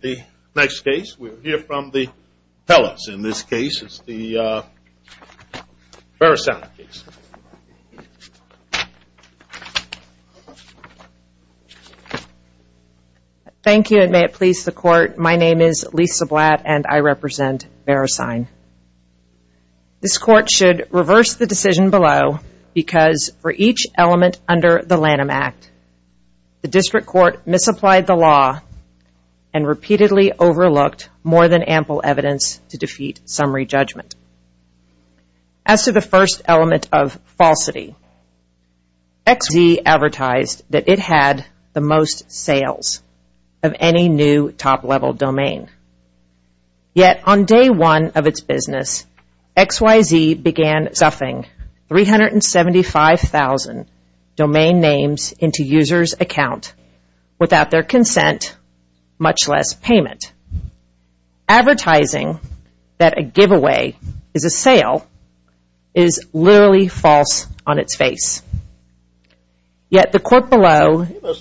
The next case, we'll hear from the tellers. In this case, it's the VeriSign case. Thank you and may it please the court, my name is Lisa Blatt and I represent VeriSign. This court should reverse the decision below because for each element under the Lanham Act, the district court misapplied the law and repeatedly overlooked more than ample evidence to defeat summary judgment. As to the first element of falsity, XYZ advertised that it had the most sales of any new top-level domain. Yet, on day one of its business, XYZ began stuffing 375,000 domain names into users' accounts without their consent, much less payment. Advertising that a giveaway is a sale is literally false on its face. Yet, the court below... I was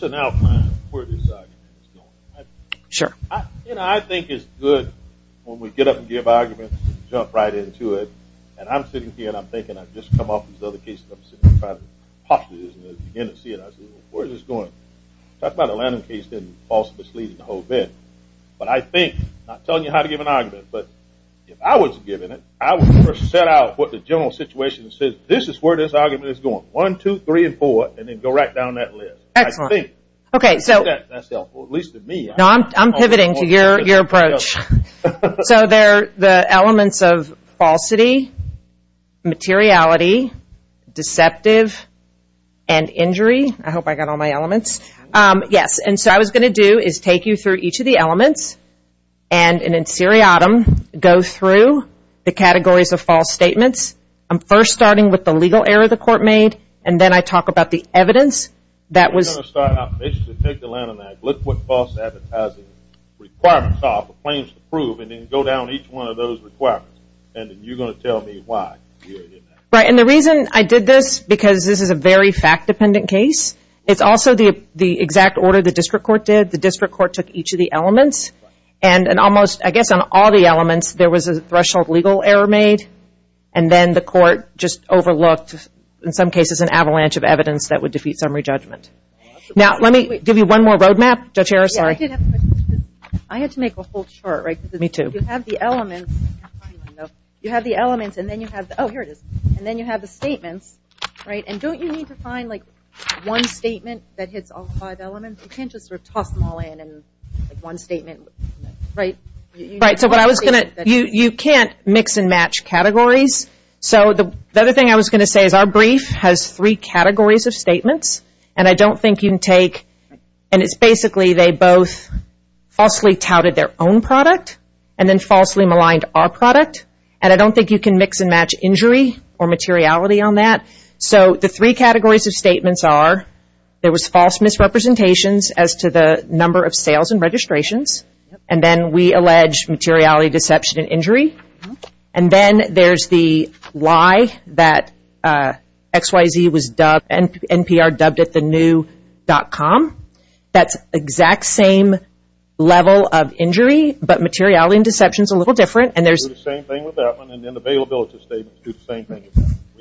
given it, I would set out what the general situation says, this is where this argument is going, one, two, three, and four, and then go right down that list. I'm pivoting to your approach. So the elements of falsity, materiality, deceptive, and injury, I hope I got all my elements. Yes, and so what I was going to do is take you through each of the elements and in seriatim, go through the categories of false statements. I'm first starting with the legal error the court made, and then I talk about the evidence that was... I'm going to start out, basically take the land on that, look what false advertising requirements are, the claims to prove, and then go down each one of those requirements, and then you're going to tell me why. Right, and the reason I did this, because this is a very fact-dependent case, it's also the exact order the district court did. The district court took each of the elements, and almost, I guess on all the elements, there was a threshold legal error made, and then the court just overlooked, in some cases, an avalanche of evidence that would defeat summary judgment. Now, let me give you one more road map. Judge Harris, sorry. I had to make a whole chart, right? Me too. You have the elements, and then you have, oh, here it is. And then you have the statements, right? And don't you need to find, like, one statement that hits all five elements? You can't just sort of toss them all in in one statement, right? Right, so what I was going to, you can't mix and match categories. So, the other thing I was going to say is our brief has three categories of statements, and I don't think you can take, and it's basically they both falsely touted their own product, and then falsely maligned our product, and I don't think you can mix and match injury or materiality on that. So, the three categories of statements are, there was false misrepresentations as to the number of sales and registrations, and then we allege materiality, deception, and injury. And then there's the lie that XYZ was dubbed, NPR dubbed it the new dot com. That's exact same level of injury, but materiality and deception is a little different. Do the same thing with that one, and then the availability statements do the same thing.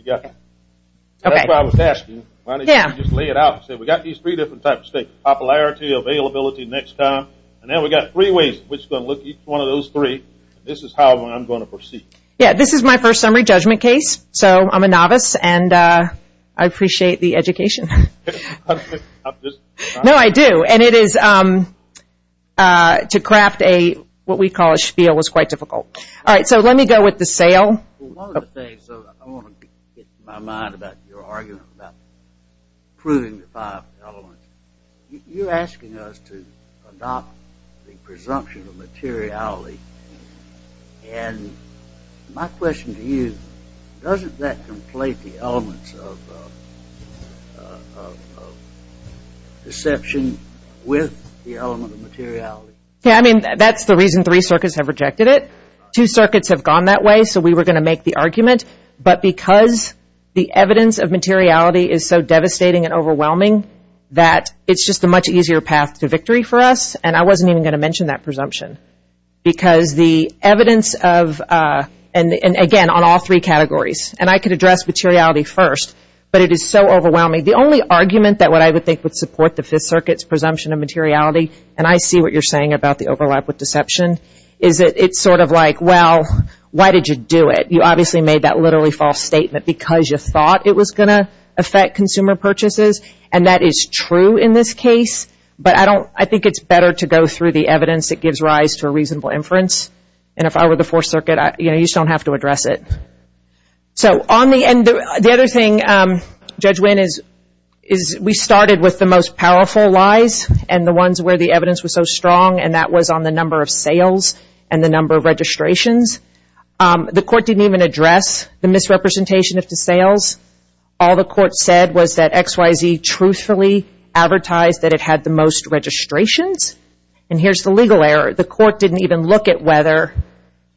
That's what I was asking. Why don't you just lay it out? I said we got these three different types of statements. Popularity, availability, next time. And then we got three ways, which is going to look at each one of those three. This is how I'm going to proceed. Yeah, this is my first summary judgment case. So, I'm a novice, and I appreciate the education. No, I do. And it is, to craft a, what we call a spiel was quite difficult. All right, so let me go with the sale. Well, one of the things, I want to get my mind about your argument about proving the five elements. You're asking us to adopt the presumption of materiality, and my question to you, doesn't that conflate the elements of deception with the element of materiality? Yeah, I mean, that's the reason three circuits have rejected it. Two circuits have gone that way, so we were going to make the argument. But because the evidence of materiality is so devastating and overwhelming, that it's just a much easier path to victory for us, and I wasn't even going to mention that presumption. Because the evidence of, and again, on all three categories, and I could address materiality first, but it is so overwhelming. The only argument that what I would think would support the fifth circuit's presumption of materiality, and I see what you're saying about the overlap with deception, is that it's sort of like, well, why did you do it? You obviously made that literally false statement because you thought it was going to affect consumer purchases, and that is true in this case. But I think it's better to go through the evidence that gives rise to a reasonable inference. And if I were the fourth circuit, you just don't have to address it. So on the end, the other thing, Judge Winn, is we started with the most powerful lies, and the ones where the evidence was so strong, and that was on the number of sales and the number of registrations. The court didn't even address the misrepresentation of the sales. All the court said was that XYZ truthfully advertised that it had the most registrations. And here's the legal error. The court didn't even look at whether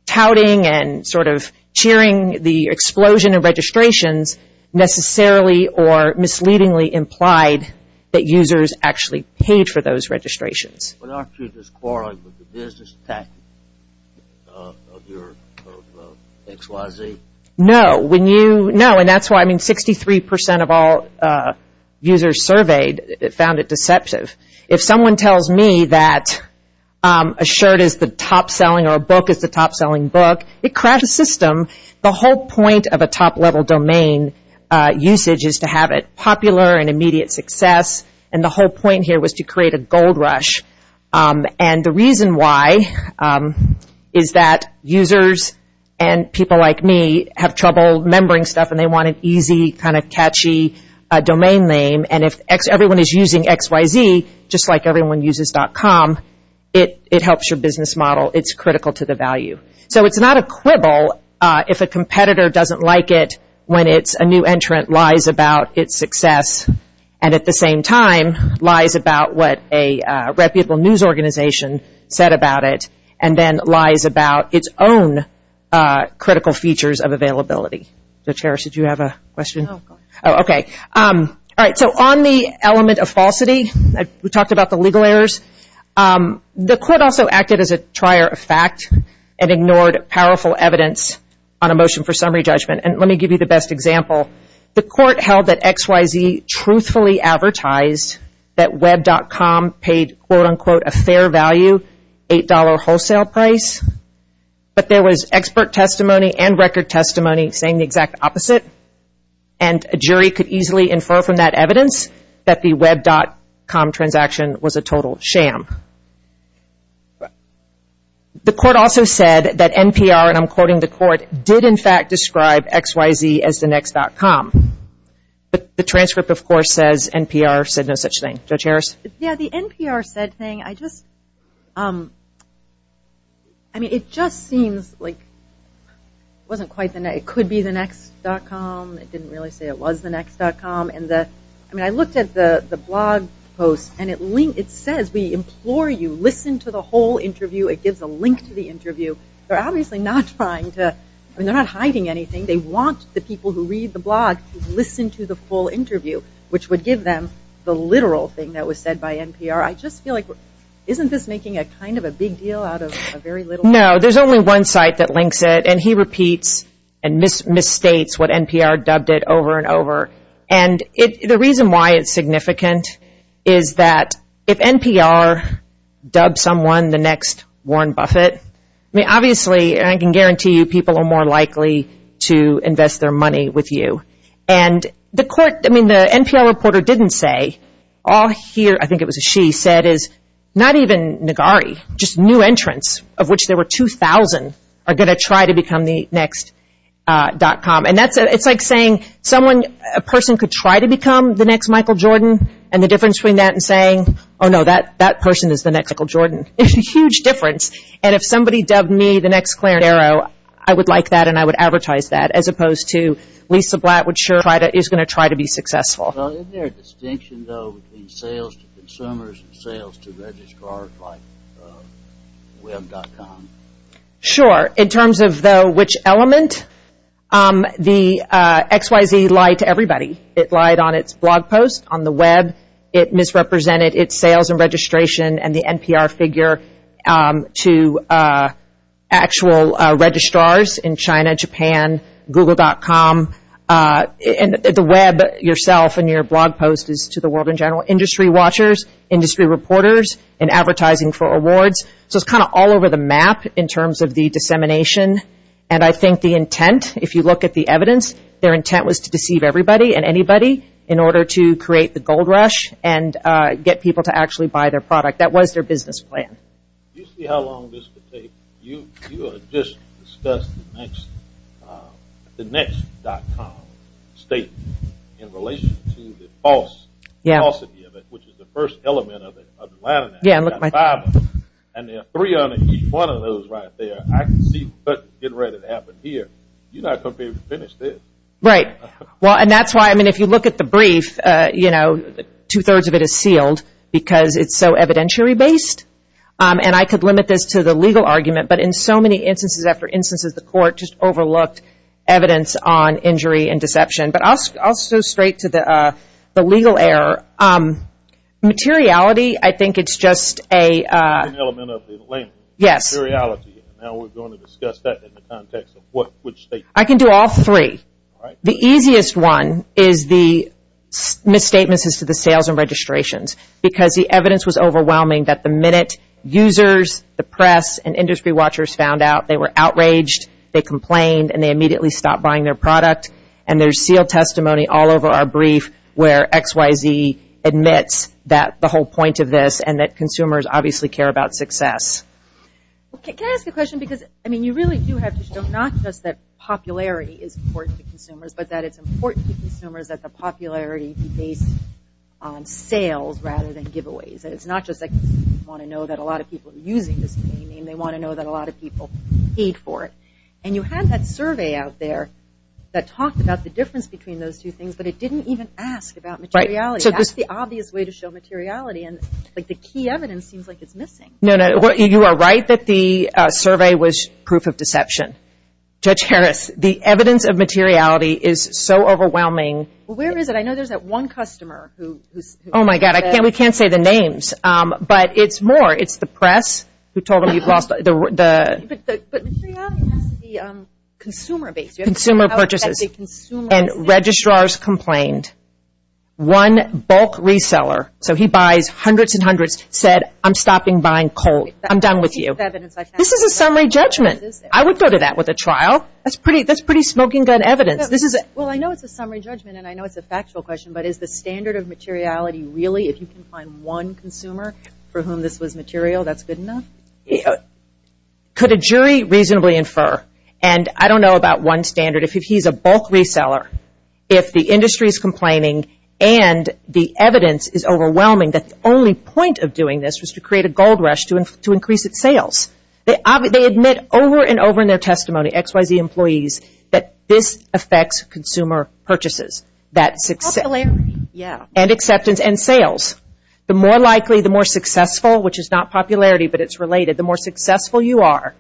touting and sort of cheering the explosion of registrations necessarily or misleadingly implied that users actually paid for those registrations. But aren't you just quarreling with the business tactic of your XYZ? No. No, and that's why, I mean, 63% of all users surveyed found it deceptive. If someone tells me that a shirt is the top-selling or a book is the top-selling book, it cracks the system. The whole point of a top-level domain usage is to have it popular and immediate success, and the whole point here was to create a gold rush. And the reason why is that users and people like me have trouble remembering stuff, and they want an easy, kind of catchy domain name. And if everyone is using XYZ, just like everyone uses .com, it helps your business model. It's critical to the value. So it's not a quibble if a competitor doesn't like it when a new entrant lies about its success and at the same time lies about what a reputable news organization said about it and then lies about its own critical features of availability. So, Tara, did you have a question? Oh, go ahead. Okay. All right, so on the element of falsity, we talked about the legal errors. The court also acted as a trier of fact and ignored powerful evidence on a motion for summary judgment. And let me give you the best example. The court held that XYZ truthfully advertised that web.com paid, quote, unquote, a fair value $8 wholesale price, but there was expert testimony and record testimony saying the exact opposite, and a jury could easily infer from that evidence that the web.com transaction was a total sham. The court also said that NPR, and I'm quoting the court, did, in fact, describe XYZ as the next .com. But the transcript, of course, says NPR said no such thing. Judge Harris? Yeah, the NPR said thing, I just, I mean, it just seems like it wasn't quite the next, it didn't really say it was the next .com, and the, I mean, I looked at the blog post, and it says we implore you, listen to the whole interview. It gives a link to the interview. They're obviously not trying to, I mean, they're not hiding anything. They want the people who read the blog to listen to the full interview, which would give them the literal thing that was said by NPR. I just feel like, isn't this making a kind of a big deal out of a very little? No, there's only one site that links it, and he repeats and misstates what NPR dubbed it over and over. And the reason why it's significant is that if NPR dubbed someone the next Warren Buffett, I mean, obviously, and I can guarantee you, people are more likely to invest their money with you. And the court, I mean, the NPR reporter didn't say. All here, I think it was a she, said is not even Nagari, just new entrants, of which there were 2,000, are going to try to become the next .com. And that's, it's like saying someone, a person could try to become the next Michael Jordan, and the difference between that and saying, oh, no, that person is the next Michael Jordan. It's a huge difference. And if somebody dubbed me the next Clarence Darrow, I would like that, and I would advertise that, as opposed to Lisa Blatt, which is going to try to be successful. Isn't there a distinction, though, between sales to consumers and sales to registrars like web.com? Sure. In terms of, though, which element, the XYZ lied to everybody. It lied on its blog post, on the web. It misrepresented its sales and registration and the NPR figure to actual registrars in China, Japan, Google.com. And the web, yourself, and your blog post is to the world in general. Industry watchers, industry reporters, and advertising for awards. So it's kind of all over the map in terms of the dissemination, and I think the intent, if you look at the evidence, their intent was to deceive everybody and anybody in order to create the gold rush and get people to actually buy their product. That was their business plan. Do you see how long this could take? You just discussed the next .com statement in relation to the falsity of it, which is the first element of it. I've got five of them, and there are three on each one of those right there. I can see getting ready to happen here. You're not going to be able to finish this. Right. Well, and that's why, I mean, if you look at the brief, you know, two-thirds of it is sealed because it's so evidentiary-based, and I could limit this to the legal argument, but in so many instances after instances, the court just overlooked evidence on injury and deception. But I'll go straight to the legal error. Materiality, I think it's just a- One element of the length. Yes. Materiality. Now we're going to discuss that in the context of which statement. I can do all three. All right. The easiest one is the misstatements as to the sales and registrations because the evidence was overwhelming that the minute users, the press, and industry watchers found out, they were outraged, they complained, and they immediately stopped buying their product. And there's sealed testimony all over our brief where XYZ admits that the whole point of this and that consumers obviously care about success. Can I ask a question? Because, I mean, you really do have to show not just that popularity is important to consumers, but that it's important to consumers that the popularity be based on sales rather than giveaways. It's not just that you want to know that a lot of people are using this name, they want to know that a lot of people paid for it. And you had that survey out there that talked about the difference between those two things, but it didn't even ask about materiality. That's the obvious way to show materiality, and the key evidence seems like it's missing. No, no, you are right that the survey was proof of deception. Judge Harris, the evidence of materiality is so overwhelming. Well, where is it? I know there's that one customer who says. Oh, my God, we can't say the names, but it's more. It's the press who told them you've lost the. But materiality has to be consumer based. Consumer purchases. You have to know how it's at the consumer. And registrars complained. One bulk reseller, so he buys hundreds and hundreds, said, I'm stopping buying cold. I'm done with you. This is a summary judgment. I would go to that with a trial. That's pretty smoking gun evidence. Well, I know it's a summary judgment, and I know it's a factual question, but is the standard of materiality really, if you can find one consumer for whom this was material, that's good enough? Could a jury reasonably infer, and I don't know about one standard. If he's a bulk reseller, if the industry is complaining and the evidence is overwhelming, the only point of doing this was to create a gold rush to increase its sales. They admit over and over in their testimony, XYZ employees, that this affects consumer purchases. Popularity, yeah. And acceptance and sales. The more likely, the more successful, which is not popularity, but it's related. The more successful you are,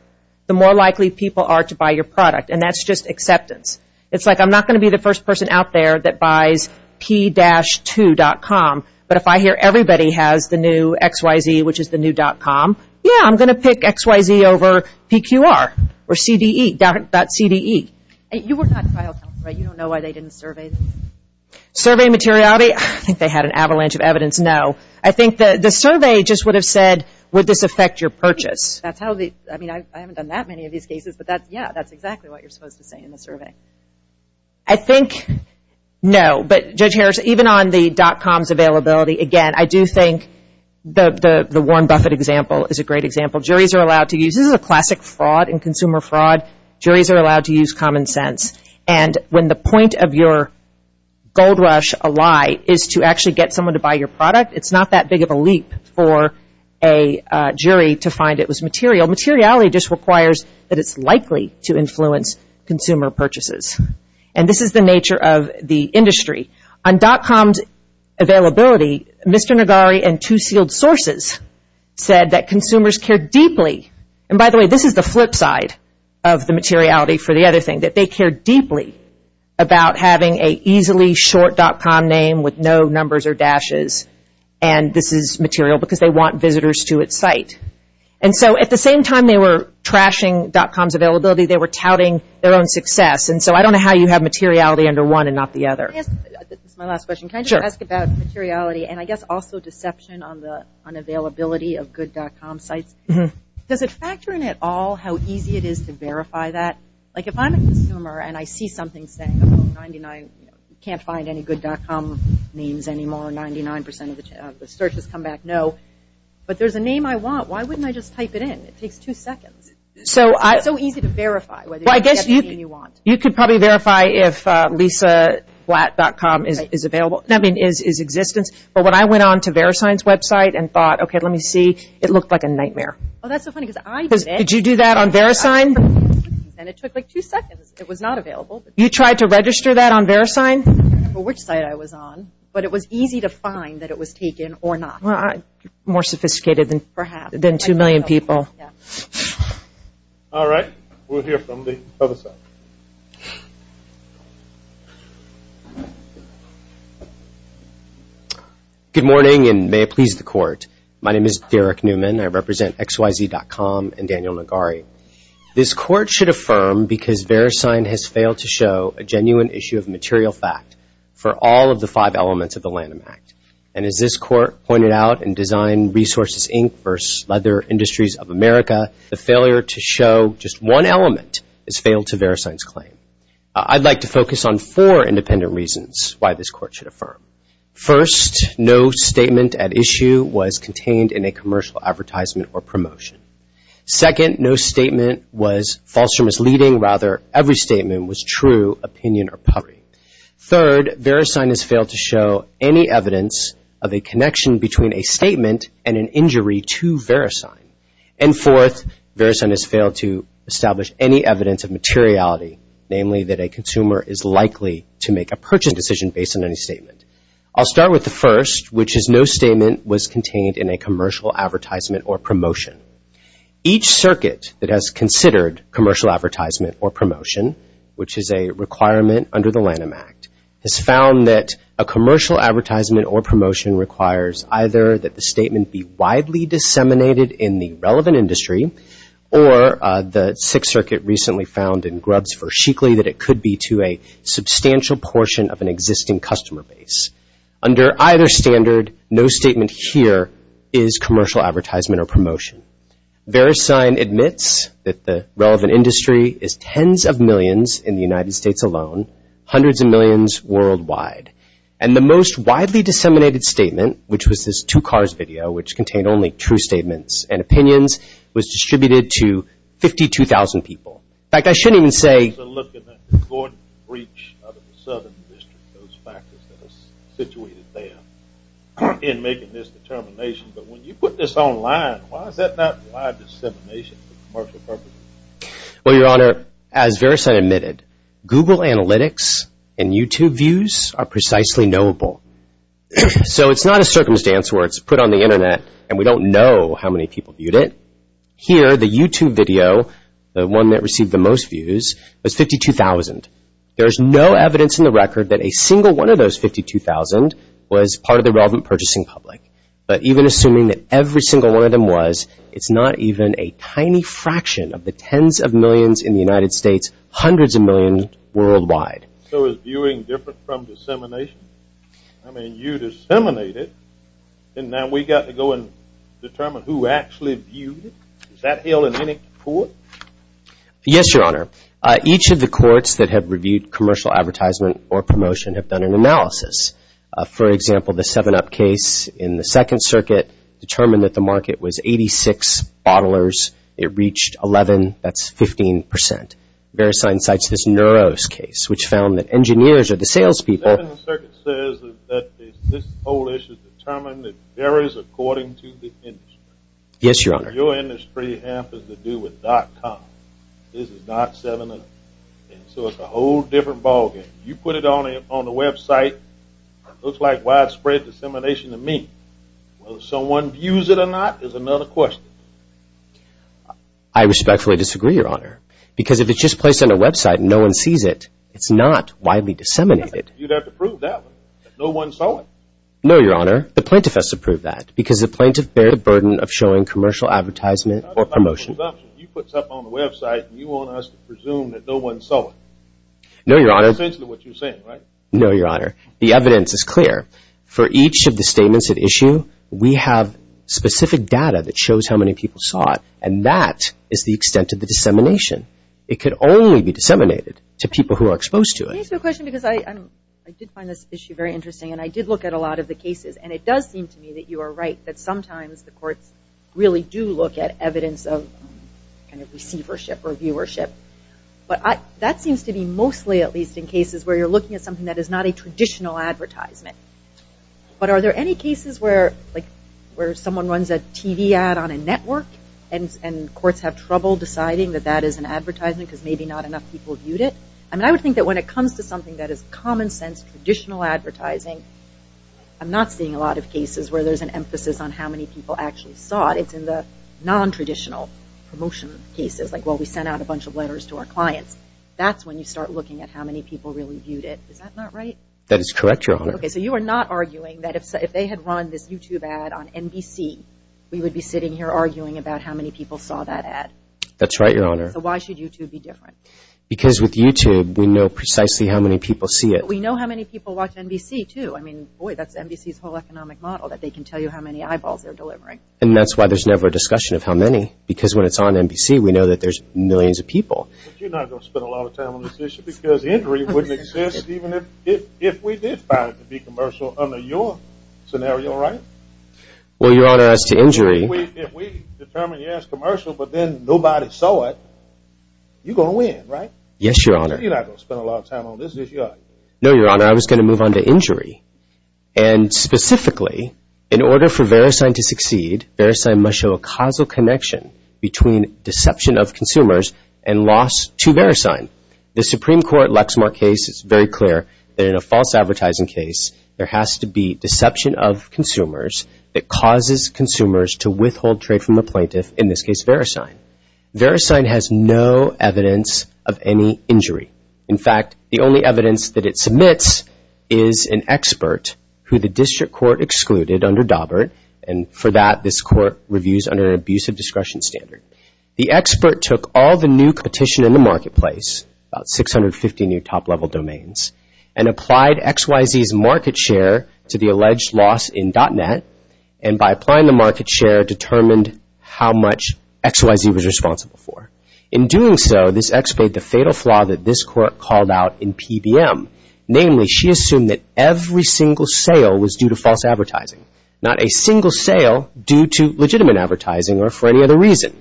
the more likely people are to buy your product, and that's just acceptance. It's like I'm not going to be the first person out there that buys p-2.com, but if I hear everybody has the new XYZ, which is the new .com, yeah, I'm going to pick XYZ over PQR or CDE, .CDE. You were not trial counsel, right? You don't know why they didn't survey them? Survey materiality, I think they had an avalanche of evidence, no. I think the survey just would have said, would this affect your purchase? I haven't done that many of these cases, but yeah, that's exactly what you're supposed to say in the survey. I think no, but Judge Harris, even on the .com's availability, again, I do think the Warren Buffett example is a great example. This is a classic fraud in consumer fraud. Juries are allowed to use common sense, and when the point of your gold rush, a lie, is to actually get someone to buy your product, it's not that big of a leap for a jury to find it was material. Materiality just requires that it's likely to influence consumer purchases, and this is the nature of the industry. On .com's availability, Mr. Nagari and two sealed sources said that consumers care deeply, and by the way, this is the flip side of the materiality for the other thing, that they care deeply about having a easily short .com name with no numbers or dashes, and this is material because they want visitors to its site. And so at the same time they were trashing .com's availability, they were touting their own success, and so I don't know how you have materiality under one and not the other. This is my last question. Can I just ask about materiality and I guess also deception on the unavailability of good .com sites? Does it factor in at all how easy it is to verify that? Like if I'm a consumer and I see something saying, oh, you can't find any good .com names anymore, 99% of the searches come back no, but there's a name I want, why wouldn't I just type it in? It takes two seconds. It's so easy to verify whether you get the name you want. You could probably verify if lisablatt.com is existence, but when I went on to VeriSign's website and thought, okay, let me see, it looked like a nightmare. Oh, that's so funny because I did it. Did you do that on VeriSign? And it took like two seconds. It was not available. You tried to register that on VeriSign? I don't remember which site I was on, but it was easy to find that it was taken or not. More sophisticated than two million people. All right. We'll hear from the other side. Good morning and may it please the court. My name is Derek Newman. I represent XYZ.com and Daniel Nagari. This court should affirm because VeriSign has failed to show a genuine issue of material fact for all of the five elements of the Lanham Act. And as this court pointed out in Design Resources, Inc. vs. Leather Industries of America, the failure to show just one element has failed to VeriSign's claim. I'd like to focus on four independent reasons why this court should affirm. First, no statement at issue was contained in a commercial advertisement or promotion. Second, no statement was false or misleading. Rather, every statement was true, opinion, or public. Third, VeriSign has failed to show any evidence of a connection between a And fourth, VeriSign has failed to establish any evidence of materiality, namely that a consumer is likely to make a purchase decision based on any statement. I'll start with the first, which is no statement was contained in a commercial advertisement or promotion. Each circuit that has considered commercial advertisement or promotion, which is a requirement under the Lanham Act, has found that a commercial advertisement or promotion requires either that the statement be widely disseminated in the relevant industry or the Sixth Circuit recently found in Grubbs v. Sheekley that it could be to a substantial portion of an existing customer base. Under either standard, no statement here is commercial advertisement or promotion. VeriSign admits that the relevant industry is tens of millions in the United States alone, hundreds of millions worldwide. And the most widely disseminated statement, which was this two cars video, which contained only true statements and opinions, was distributed to 52,000 people. In fact, I shouldn't even say... Looking at the Gordon Breach out of the Southern District, those factors that are situated there in making this determination, but when you put this online, why is that not wide dissemination for commercial purposes? Well, Your Honor, as VeriSign admitted, Google analytics and YouTube views are precisely knowable. So it's not a circumstance where it's put on the Internet and we don't know how many people viewed it. Here, the YouTube video, the one that received the most views, was 52,000. There's no evidence in the record that a single one of those 52,000 was part of the relevant purchasing public. But even assuming that every single one of them was, it's not even a tiny fraction of the tens of millions in the United States, hundreds of millions worldwide. So is viewing different from dissemination? I mean, you disseminate it, and now we've got to go and determine who actually viewed it? Is that held in any court? Yes, Your Honor. Each of the courts that have reviewed commercial advertisement or promotion have done an analysis. For example, the 7-Up case in the Second Circuit determined that the market was 86 bottlers. It reached 11, that's 15%. Verisign cites this Neuros case, which found that engineers are the salespeople. The 7th Circuit says that this whole issue is determined that it varies according to the industry. Yes, Your Honor. Your industry has to do with dot-com. This is not 7-Up. So it's a whole different ballgame. You put it on the website, looks like widespread dissemination to me. Will someone use it or not is another question. I respectfully disagree, Your Honor, because if it's just placed on a website and no one sees it, it's not widely disseminated. You'd have to prove that one. No one saw it. No, Your Honor. The plaintiff has to prove that because the plaintiff bears the burden of showing commercial advertisement or promotion. You put something on the website, and you want us to presume that no one saw it. No, Your Honor. That's essentially what you're saying, right? No, Your Honor. The evidence is clear. For each of the statements at issue, we have specific data that shows how many people saw it, and that is the extent of the dissemination. It could only be disseminated to people who are exposed to it. Can I ask you a question? I did find this issue very interesting, and I did look at a lot of the cases, and it does seem to me that you are right that sometimes the courts really do look at evidence of receivership or viewership. But that seems to be mostly at least in cases where you're looking at something that is not a traditional advertisement. But are there any cases where someone runs a TV ad on a network and courts have trouble deciding that that is an advertisement because maybe not enough people viewed it? I would think that when it comes to something that is common sense, traditional advertising, I'm not seeing a lot of cases where there's an emphasis on how many people actually saw it. It's in the nontraditional promotion cases, like, well, we sent out a bunch of letters to our clients. That's when you start looking at how many people really viewed it. Is that not right? That is correct, Your Honor. Okay, so you are not arguing that if they had run this YouTube ad on NBC, we would be sitting here arguing about how many people saw that ad? That's right, Your Honor. So why should YouTube be different? Because with YouTube, we know precisely how many people see it. We know how many people watch NBC, too. I mean, boy, that's NBC's whole economic model, that they can tell you how many eyeballs they're delivering. And that's why there's never a discussion of how many because when it's on NBC, we know that there's millions of people. But you're not going to spend a lot of time on this issue because injury wouldn't exist even if we did find it to be commercial under your scenario, right? Well, Your Honor, as to injury... If we determine, yes, commercial, but then nobody saw it, you're going to win, right? Yes, Your Honor. You're not going to spend a lot of time on this issue, are you? No, Your Honor. I was going to move on to injury. And specifically, in order for VeriSign to succeed, VeriSign must show a causal connection between deception of consumers and loss to VeriSign. The Supreme Court Lexmark case is very clear that in a false advertising case, there has to be deception of consumers that causes consumers to withhold trade from the plaintiff, in this case VeriSign. VeriSign has no evidence of any injury. In fact, the only evidence that it submits is an expert who the district court excluded under Daubert, and for that this court reviews under an abusive discretion standard. The expert took all the new competition in the marketplace, about 650 new top-level domains, and applied XYZ's market share to the alleged loss in .Net, and by applying the market share, determined how much XYZ was responsible for. In doing so, this expert, the fatal flaw that this court called out in PBM, namely, she assumed that every single sale was due to false advertising, not a single sale due to legitimate advertising or for any other reason.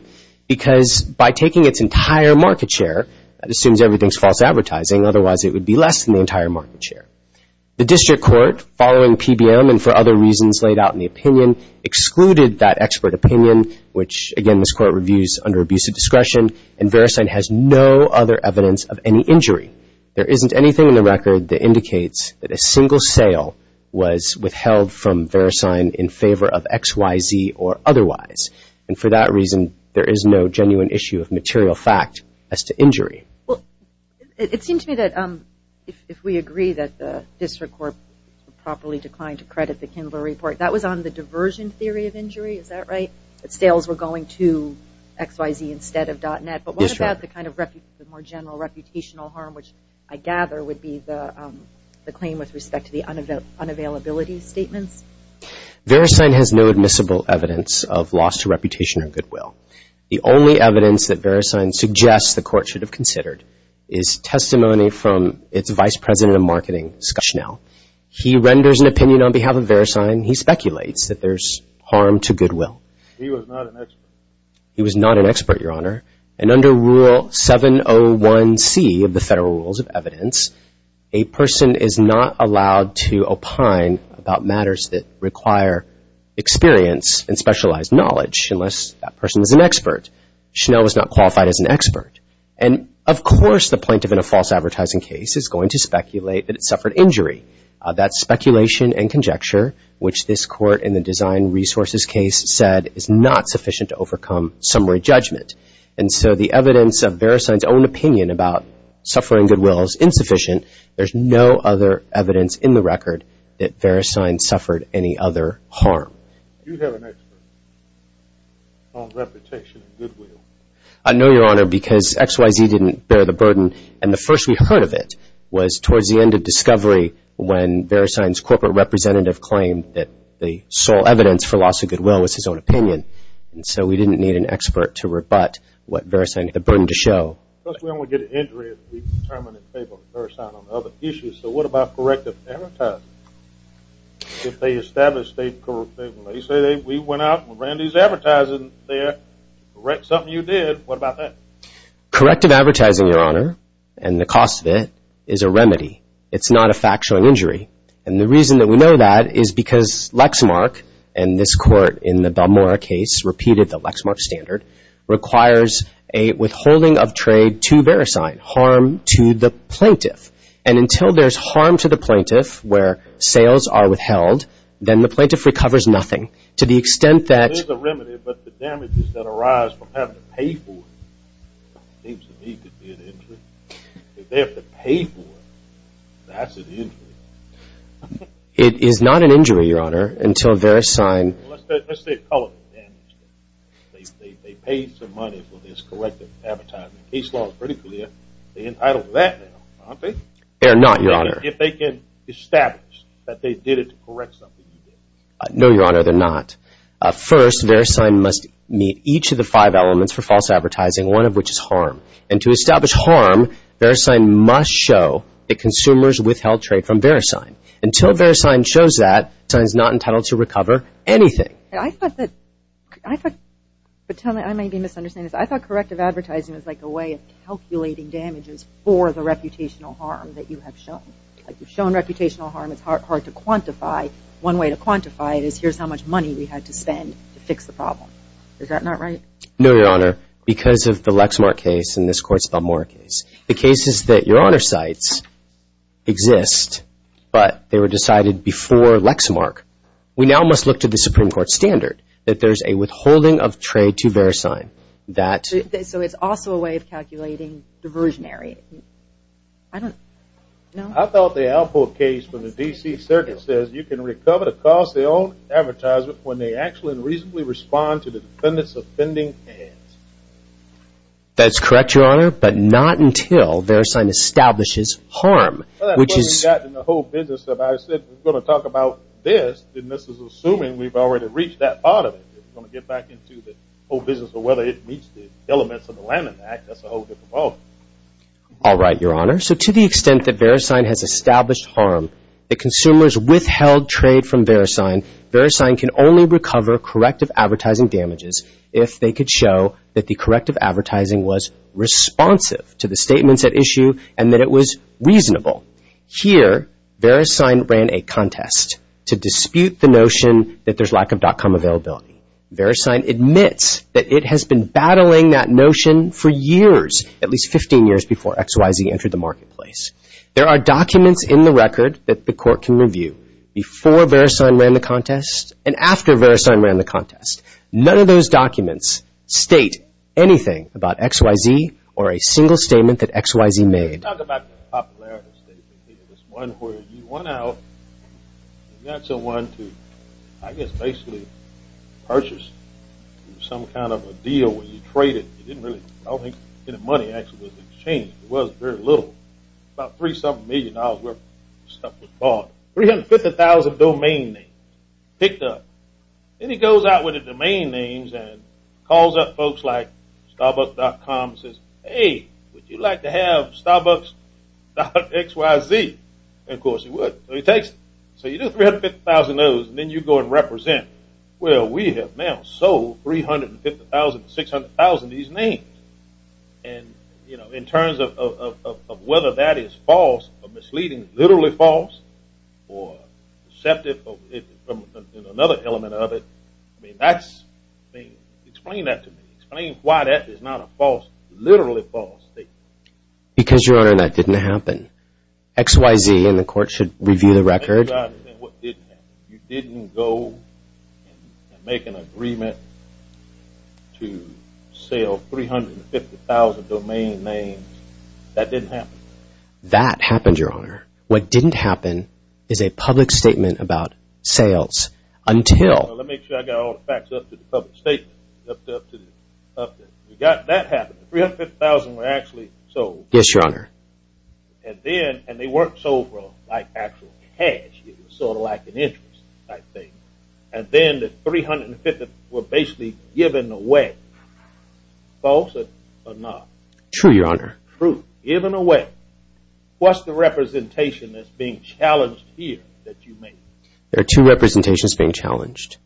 Because by taking its entire market share, that assumes everything is false advertising, otherwise it would be less than the entire market share. The district court, following PBM and for other reasons laid out in the opinion, excluded that expert opinion, which again this court reviews under abusive discretion, and VeriSign has no other evidence of any injury. There isn't anything in the record that indicates that a single sale was withheld from VeriSign in favor of XYZ or otherwise, and for that reason, there is no genuine issue of material fact as to injury. Well, it seems to me that if we agree that the district court properly declined to credit the Kindler report, that was on the diversion theory of injury, is that right? Sales were going to XYZ instead of .Net, but what about the kind of more general reputational harm, which I gather would be the claim with respect to the unavailability statements? VeriSign has no admissible evidence of loss to reputation or goodwill. The only evidence that VeriSign suggests the court should have considered is testimony from its vice president of marketing, Scott Schnell. He renders an opinion on behalf of VeriSign. He speculates that there's harm to goodwill. He was not an expert. He was not an expert, Your Honor, and under Rule 701C of the Federal Rules of Evidence, a person is not allowed to opine about matters that require experience and specialized knowledge, unless that person is an expert. Schnell was not qualified as an expert, and of course the plaintiff in a false advertising case is going to speculate that it suffered injury. That's speculation and conjecture, which this court in the design resources case said is not sufficient to overcome summary judgment, and so the evidence of VeriSign's own opinion about suffering goodwill is insufficient. There's no other evidence in the record that VeriSign suffered any other harm. Do you have an expert on reputation and goodwill? No, Your Honor, because XYZ didn't bear the burden, and the first we heard of it was towards the end of discovery when VeriSign's corporate representative claimed that the sole evidence for loss of goodwill was his own opinion, and so we didn't need an expert to rebut what VeriSign had the burden to show. Well, first of all, when we get an injury, we determine in favor of VeriSign on other issues, so what about corrective advertising? If they establish they went out and ran these advertising there, correct something you did, what about that? Corrective advertising, Your Honor, and the cost of it is a remedy. It's not a fact-showing injury, and the reason that we know that is because Lexmark, and this court in the Balmora case repeated the Lexmark standard, requires a withholding of trade to VeriSign, harm to the plaintiff, and until there's harm to the plaintiff where sales are withheld, then the plaintiff recovers nothing to the extent that— It is a remedy, but the damages that arise from having to pay for it seems to me to be an injury. If they have to pay for it, that's an injury. It is not an injury, Your Honor, until VeriSign— Well, let's say a color damage. They paid some money for this corrective advertising. The case law is pretty clear. They're entitled to that now, aren't they? They are not, Your Honor. If they can establish that they did it to correct something you did. No, Your Honor, they're not. First, VeriSign must meet each of the five elements for false advertising, one of which is harm, and to establish harm, VeriSign must show that consumers withheld trade from VeriSign. Until VeriSign shows that, VeriSign is not entitled to recover anything. I thought that—I thought—but tell me, I may be misunderstanding this. I thought corrective advertising was like a way of calculating damages for the reputational harm that you have shown. If you've shown reputational harm, it's hard to quantify. One way to quantify it is here's how much money we had to spend to fix the problem. Is that not right? No, Your Honor, because of the Lexmark case and this Court's Balmora case. The cases that Your Honor cites exist, but they were decided before Lexmark. We now must look to the Supreme Court standard that there's a withholding of trade to VeriSign. So it's also a way of calculating diversionary. I don't—no? I thought the Alpo case from the D.C. Circuit says you can recover the cost of your own advertisement when they actually and reasonably respond to the defendant's offending hands. That's correct, Your Honor, but not until VeriSign establishes harm, which is— Well, that's what we've got in the whole business of—I said we're going to talk about this, and this is assuming we've already reached that part of it. We're going to get back into the whole business of whether it meets the elements of the Lanham Act. That's a whole different ballgame. All right, Your Honor. So to the extent that VeriSign has established harm, the consumers withheld trade from VeriSign, VeriSign can only recover corrective advertising damages if they could show that the corrective advertising was responsive to the statements at issue and that it was reasonable. Here, VeriSign ran a contest to dispute the notion that there's lack of dot-com availability. VeriSign admits that it has been battling that notion for years, at least 15 years before XYZ entered the marketplace. There are documents in the record that the court can review before VeriSign ran the contest and after VeriSign ran the contest. None of those documents state anything about XYZ or a single statement that XYZ made. Talk about the popularity of the statement. It was one where you went out and got someone to, I guess, basically purchase some kind of a deal where you traded. You didn't really—I don't think any money actually was exchanged. It was very little. About three-something million dollars worth of stuff was bought. 350,000 domain names picked up. Then he goes out with the domain names and calls up folks like starbucks.com and says, hey, would you like to have starbucks.xyz? Of course he would. So he takes it. So you do 350,000 of those and then you go and represent. Well, we have now sold 350,000 to 600,000 of these names. And, you know, in terms of whether that is false or misleading, literally false or deceptive in another element of it, I mean, that's—explain that to me. Explain why that is not a false, literally false statement. Because, Your Honor, that didn't happen. XYZ and the court should review the record. You didn't go and make an agreement to sell 350,000 domain names. That didn't happen. That happened, Your Honor. What didn't happen is a public statement about sales until— Well, let me make sure I got all the facts up to the public statement. You got that happening. 350,000 were actually sold. Yes, Your Honor. And then—and they weren't sold for like actual cash. It was sort of like an interest type thing. And then the 350,000 were basically given away. False or not? True, Your Honor. True. Given away. What's the representation that's being challenged here that you made? There are two representations being challenged.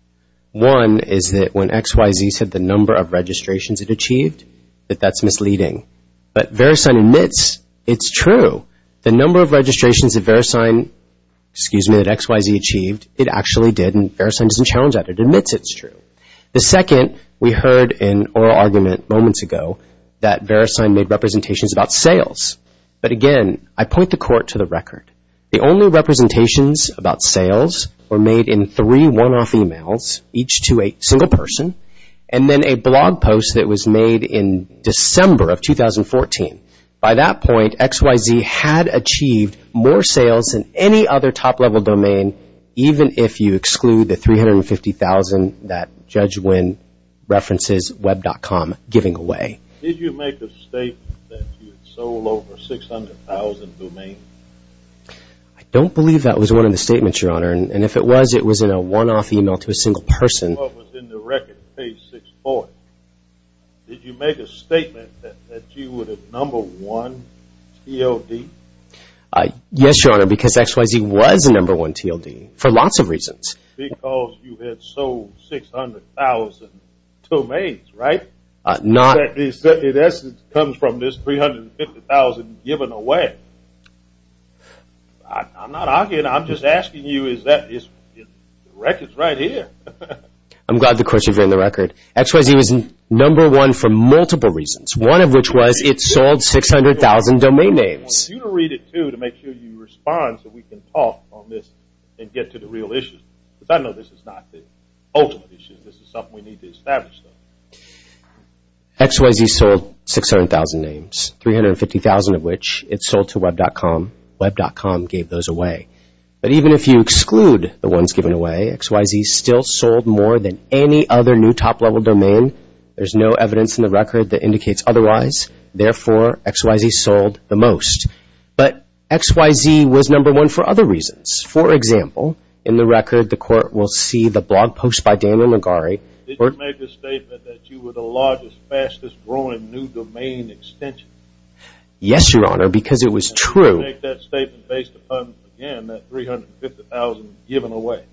One is that when XYZ said the number of registrations it achieved, that that's misleading. But VeriSign admits it's true. The number of registrations that VeriSign—excuse me, that XYZ achieved, it actually did. And VeriSign doesn't challenge that. It admits it's true. The second, we heard an oral argument moments ago that VeriSign made representations about sales. But, again, I point the court to the record. The only representations about sales were made in three one-off emails, each to a single person, and then a blog post that was made in December of 2014. By that point, XYZ had achieved more sales than any other top-level domain, even if you exclude the 350,000 that Judge Wynn references web.com giving away. Did you make a statement that you had sold over 600,000 domains? I don't believe that was one of the statements, Your Honor. And if it was, it was in a one-off email to a single person. It was in the record, page 640. Did you make a statement that you were the number one TLD? Yes, Your Honor, because XYZ was the number one TLD for lots of reasons. Because you had sold 600,000 domains, right? Not— That comes from this 350,000 given away. I'm not arguing. I'm just asking you is that—the record's right here. I'm glad the question's in the record. XYZ was number one for multiple reasons, one of which was it sold 600,000 domain names. I want you to read it, too, to make sure you respond so we can talk on this and get to the real issue. Because I know this is not the ultimate issue. This is something we need to establish, though. XYZ sold 600,000 names, 350,000 of which it sold to Web.com. Web.com gave those away. But even if you exclude the ones given away, XYZ still sold more than any other new top-level domain. There's no evidence in the record that indicates otherwise. Therefore, XYZ sold the most. But XYZ was number one for other reasons. For example, in the record, the Court will see the blog post by Daniel Magari. Did you make the statement that you were the largest, fastest-growing new domain extension? Yes, Your Honor, because it was true. And make that statement based upon, again, that 350,000 given away?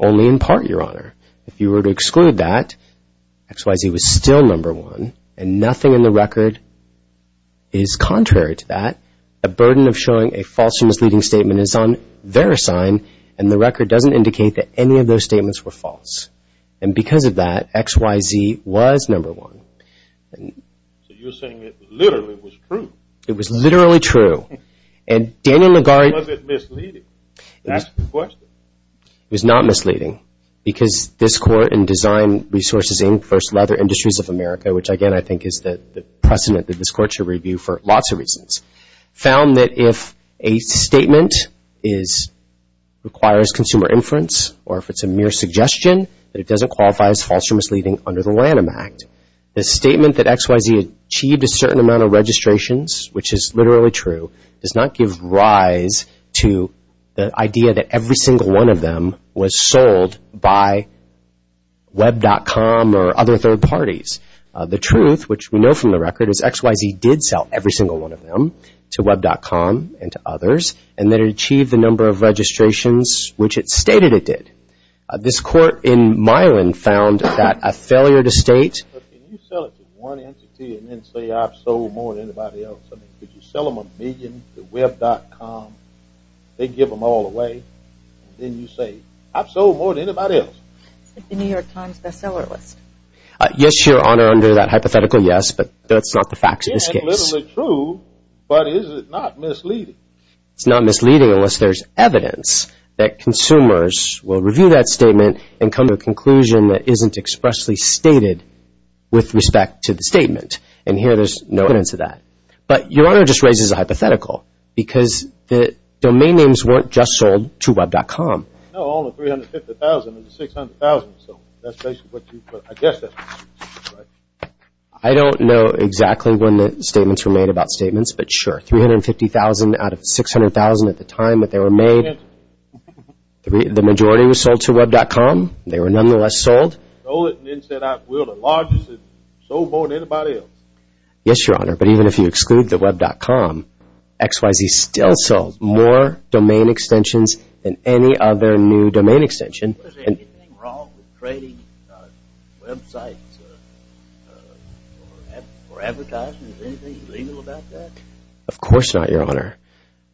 Only in part, Your Honor. If you were to exclude that, XYZ was still number one, and nothing in the record is contrary to that. The burden of showing a false or misleading statement is on their side, and the record doesn't indicate that any of those statements were false. And because of that, XYZ was number one. So you're saying it literally was true? It was literally true. And Daniel Magari — Was it misleading? Ask the question. It was not misleading, because this Court in Design Resources, Inc. versus Leather Industries of America, which, again, I think is the precedent that this Court should review for lots of reasons, found that if a statement requires consumer inference, or if it's a mere suggestion, that it doesn't qualify as false or misleading under the Lanham Act. The statement that XYZ achieved a certain amount of registrations, which is literally true, does not give rise to the idea that every single one of them was sold by Web.com or other third parties. The truth, which we know from the record, is XYZ did sell every single one of them to Web.com and to others, and that it achieved the number of registrations which it stated it did. This Court in Milan found that a failure to state — Can you sell it to one entity and then say, I've sold more than anybody else? I mean, could you sell them a million to Web.com? They'd give them all away. Then you say, I've sold more than anybody else. It's like the New York Times bestseller list. Yes, Your Honor, under that hypothetical, yes, but that's not the facts of this case. It's literally true, but is it not misleading? It's not misleading unless there's evidence that consumers will review that statement and come to a conclusion that isn't expressly stated with respect to the statement. And here there's no evidence of that. But Your Honor just raises a hypothetical because the domain names weren't just sold to Web.com. I guess that's what you're saying, right? I don't know exactly when the statements were made about statements, but sure. $350,000 out of $600,000 at the time that they were made. The majority was sold to Web.com. They were nonetheless sold. Sold it and then said, I will, the largest and sold more than anybody else. Yes, Your Honor, but even if you exclude the Web.com, XYZ still sold more domain extensions than any other new domain extension. Was there anything wrong with trading websites for advertisements? Anything illegal about that? Of course not, Your Honor.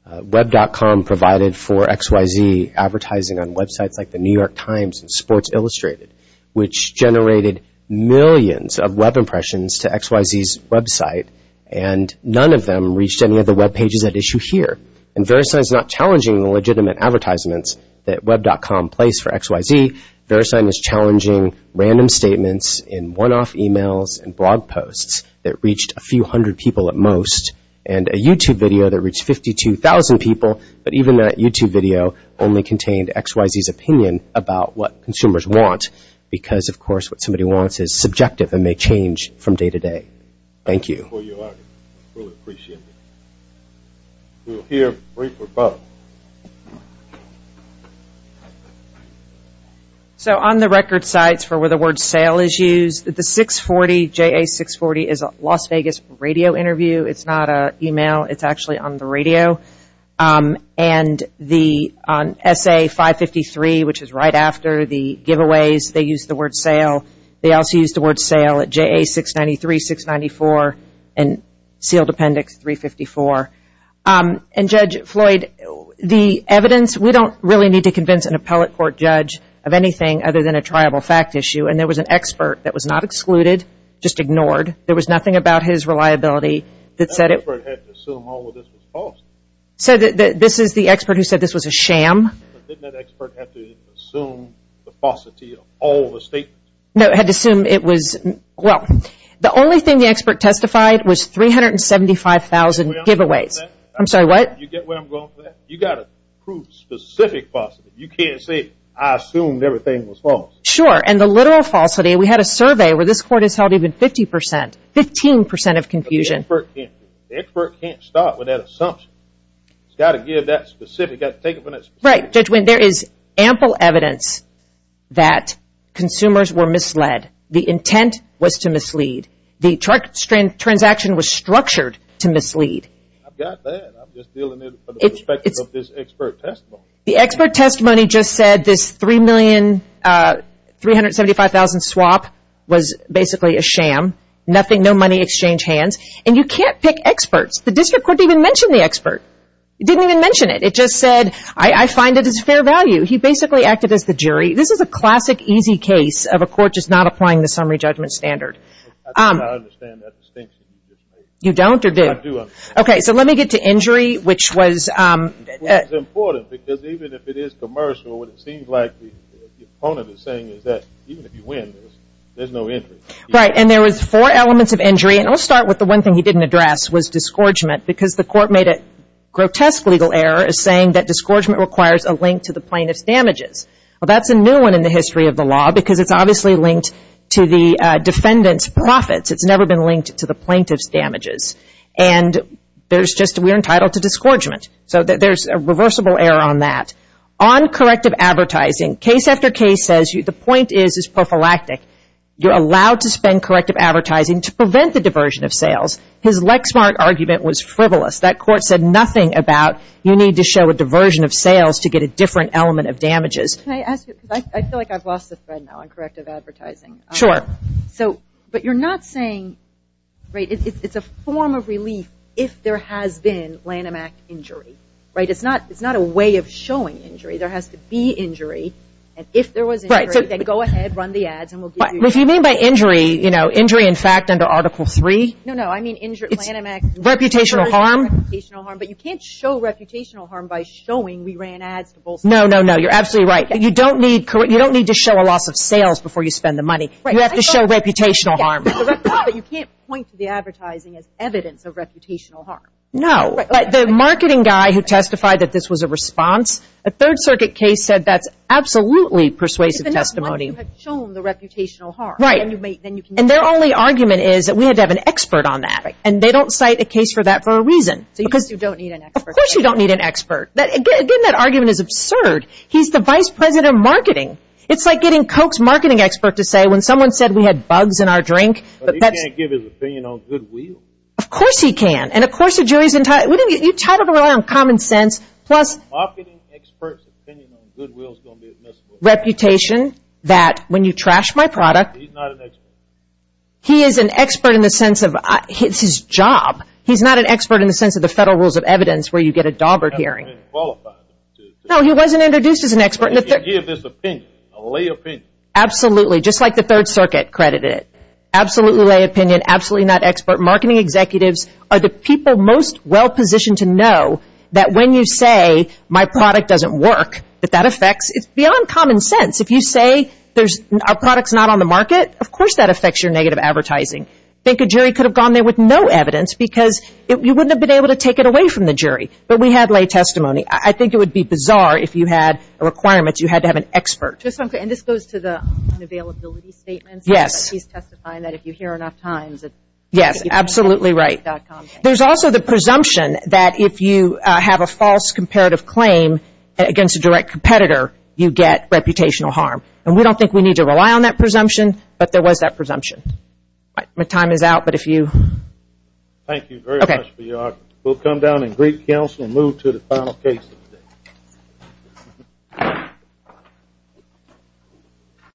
Web.com provided for XYZ advertising on websites like the New York Times and Sports Illustrated, which generated millions of web impressions to XYZ's website, and none of them reached any of the web pages at issue here. And VeriSign is not challenging legitimate advertisements that Web.com placed for XYZ. VeriSign is challenging random statements in one-off emails and blog posts that reached a few hundred people at most and a YouTube video that reached 52,000 people, but even that YouTube video only contained XYZ's opinion about what consumers want because, of course, what somebody wants is subjective and may change from day to day. Thank you. We appreciate it. We'll hear a brief rebuttal. So on the record sites for where the word sale is used, the 640, JA640, is a Las Vegas radio interview. It's not an email. It's actually on the radio. And the SA553, which is right after the giveaways, they used the word sale. They also used the word sale at JA693, 694, and sealed appendix 354. And, Judge Floyd, the evidence, we don't really need to convince an appellate court judge of anything other than a triable fact issue, and there was an expert that was not excluded, just ignored. There was nothing about his reliability that said it was false. So this is the expert who said this was a sham. Didn't that expert have to assume the falsity of all the statements? No, it had to assume it was, well, the only thing the expert testified was 375,000 giveaways. I'm sorry, what? You get where I'm going with that? You've got to prove specific falsity. You can't say, I assumed everything was false. Sure, and the literal falsity, we had a survey where this court has held even 50%, 15% of confusion. The expert can't do that. The expert can't start with that assumption. It's got to give that specific, take it from that specific. Right, Judge Wynn, there is ample evidence that consumers were misled. The intent was to mislead. The transaction was structured to mislead. I've got that. I'm just dealing with it from the perspective of this expert testimony. The expert testimony just said this 375,000 swap was basically a sham. Nothing, no money exchanged hands. And you can't pick experts. The district court didn't even mention the expert. It didn't even mention it. It just said, I find it as fair value. He basically acted as the jury. This is a classic easy case of a court just not applying the summary judgment standard. I think I understand that distinction you just made. You don't or do you? I do. Okay, so let me get to injury, which was. It's important because even if it is commercial, what it seems like the opponent is saying is that even if you win, there's no injury. Right, and there was four elements of injury. And I'll start with the one thing he didn't address was disgorgement because the court made a grotesque legal error saying that disgorgement requires a link to the plaintiff's damages. Well, that's a new one in the history of the law because it's obviously linked to the defendant's profits. It's never been linked to the plaintiff's damages. And there's just we're entitled to disgorgement. So there's a reversible error on that. On corrective advertising, case after case says the point is it's prophylactic. You're allowed to spend corrective advertising to prevent the diversion of sales. His Lexmark argument was frivolous. That court said nothing about you need to show a diversion of sales to get a different element of damages. Can I ask you, because I feel like I've lost the thread now on corrective advertising. Sure. So, but you're not saying, right, it's a form of relief if there has been Lanham Act injury, right? It's not a way of showing injury. There has to be injury. And if there was injury, then go ahead, run the ads, and we'll give you. If you mean by injury, you know, injury in fact under Article 3? No, no. I mean Lanham Act. Reputational harm. Reputational harm. But you can't show reputational harm by showing we ran ads. No, no, no. You're absolutely right. You don't need to show a loss of sales before you spend the money. You have to show reputational harm. But you can't point to the advertising as evidence of reputational harm. No. The marketing guy who testified that this was a response, a Third Circuit case said that's absolutely persuasive testimony. But you have shown the reputational harm. Right. And their only argument is that we had to have an expert on that. Right. And they don't cite a case for that for a reason. So you just don't need an expert. Of course you don't need an expert. Again, that argument is absurd. He's the Vice President of Marketing. It's like getting Coke's marketing expert to say when someone said we had bugs in our drink. But he can't give his opinion on Goodwill. Of course he can. And, of course, the jury's entitled to rely on common sense. Plus. Marketing expert's opinion on Goodwill is going to be admissible. Reputation that when you trash my product. He's not an expert. He is an expert in the sense of it's his job. He's not an expert in the sense of the federal rules of evidence where you get a dauber hearing. He hasn't been qualified. No, he wasn't introduced as an expert. He can give his opinion, a lay opinion. Absolutely. Just like the Third Circuit credited it. Absolutely lay opinion. Absolutely not expert. Marketing executives are the people most well positioned to know that when you say my product doesn't work, that that affects, it's beyond common sense. If you say our product's not on the market, of course that affects your negative advertising. I think a jury could have gone there with no evidence because you wouldn't have been able to take it away from the jury. But we had lay testimony. I think it would be bizarre if you had a requirement you had to have an expert. And this goes to the unavailability statement. Yes. He's testifying that if you hear enough times. Yes, absolutely right. There's also the presumption that if you have a false comparative claim against a direct competitor, you get reputational harm. And we don't think we need to rely on that presumption, but there was that presumption. My time is out, but if you. Thank you very much for your argument. We'll come down and greet counsel and move to the final case of the day.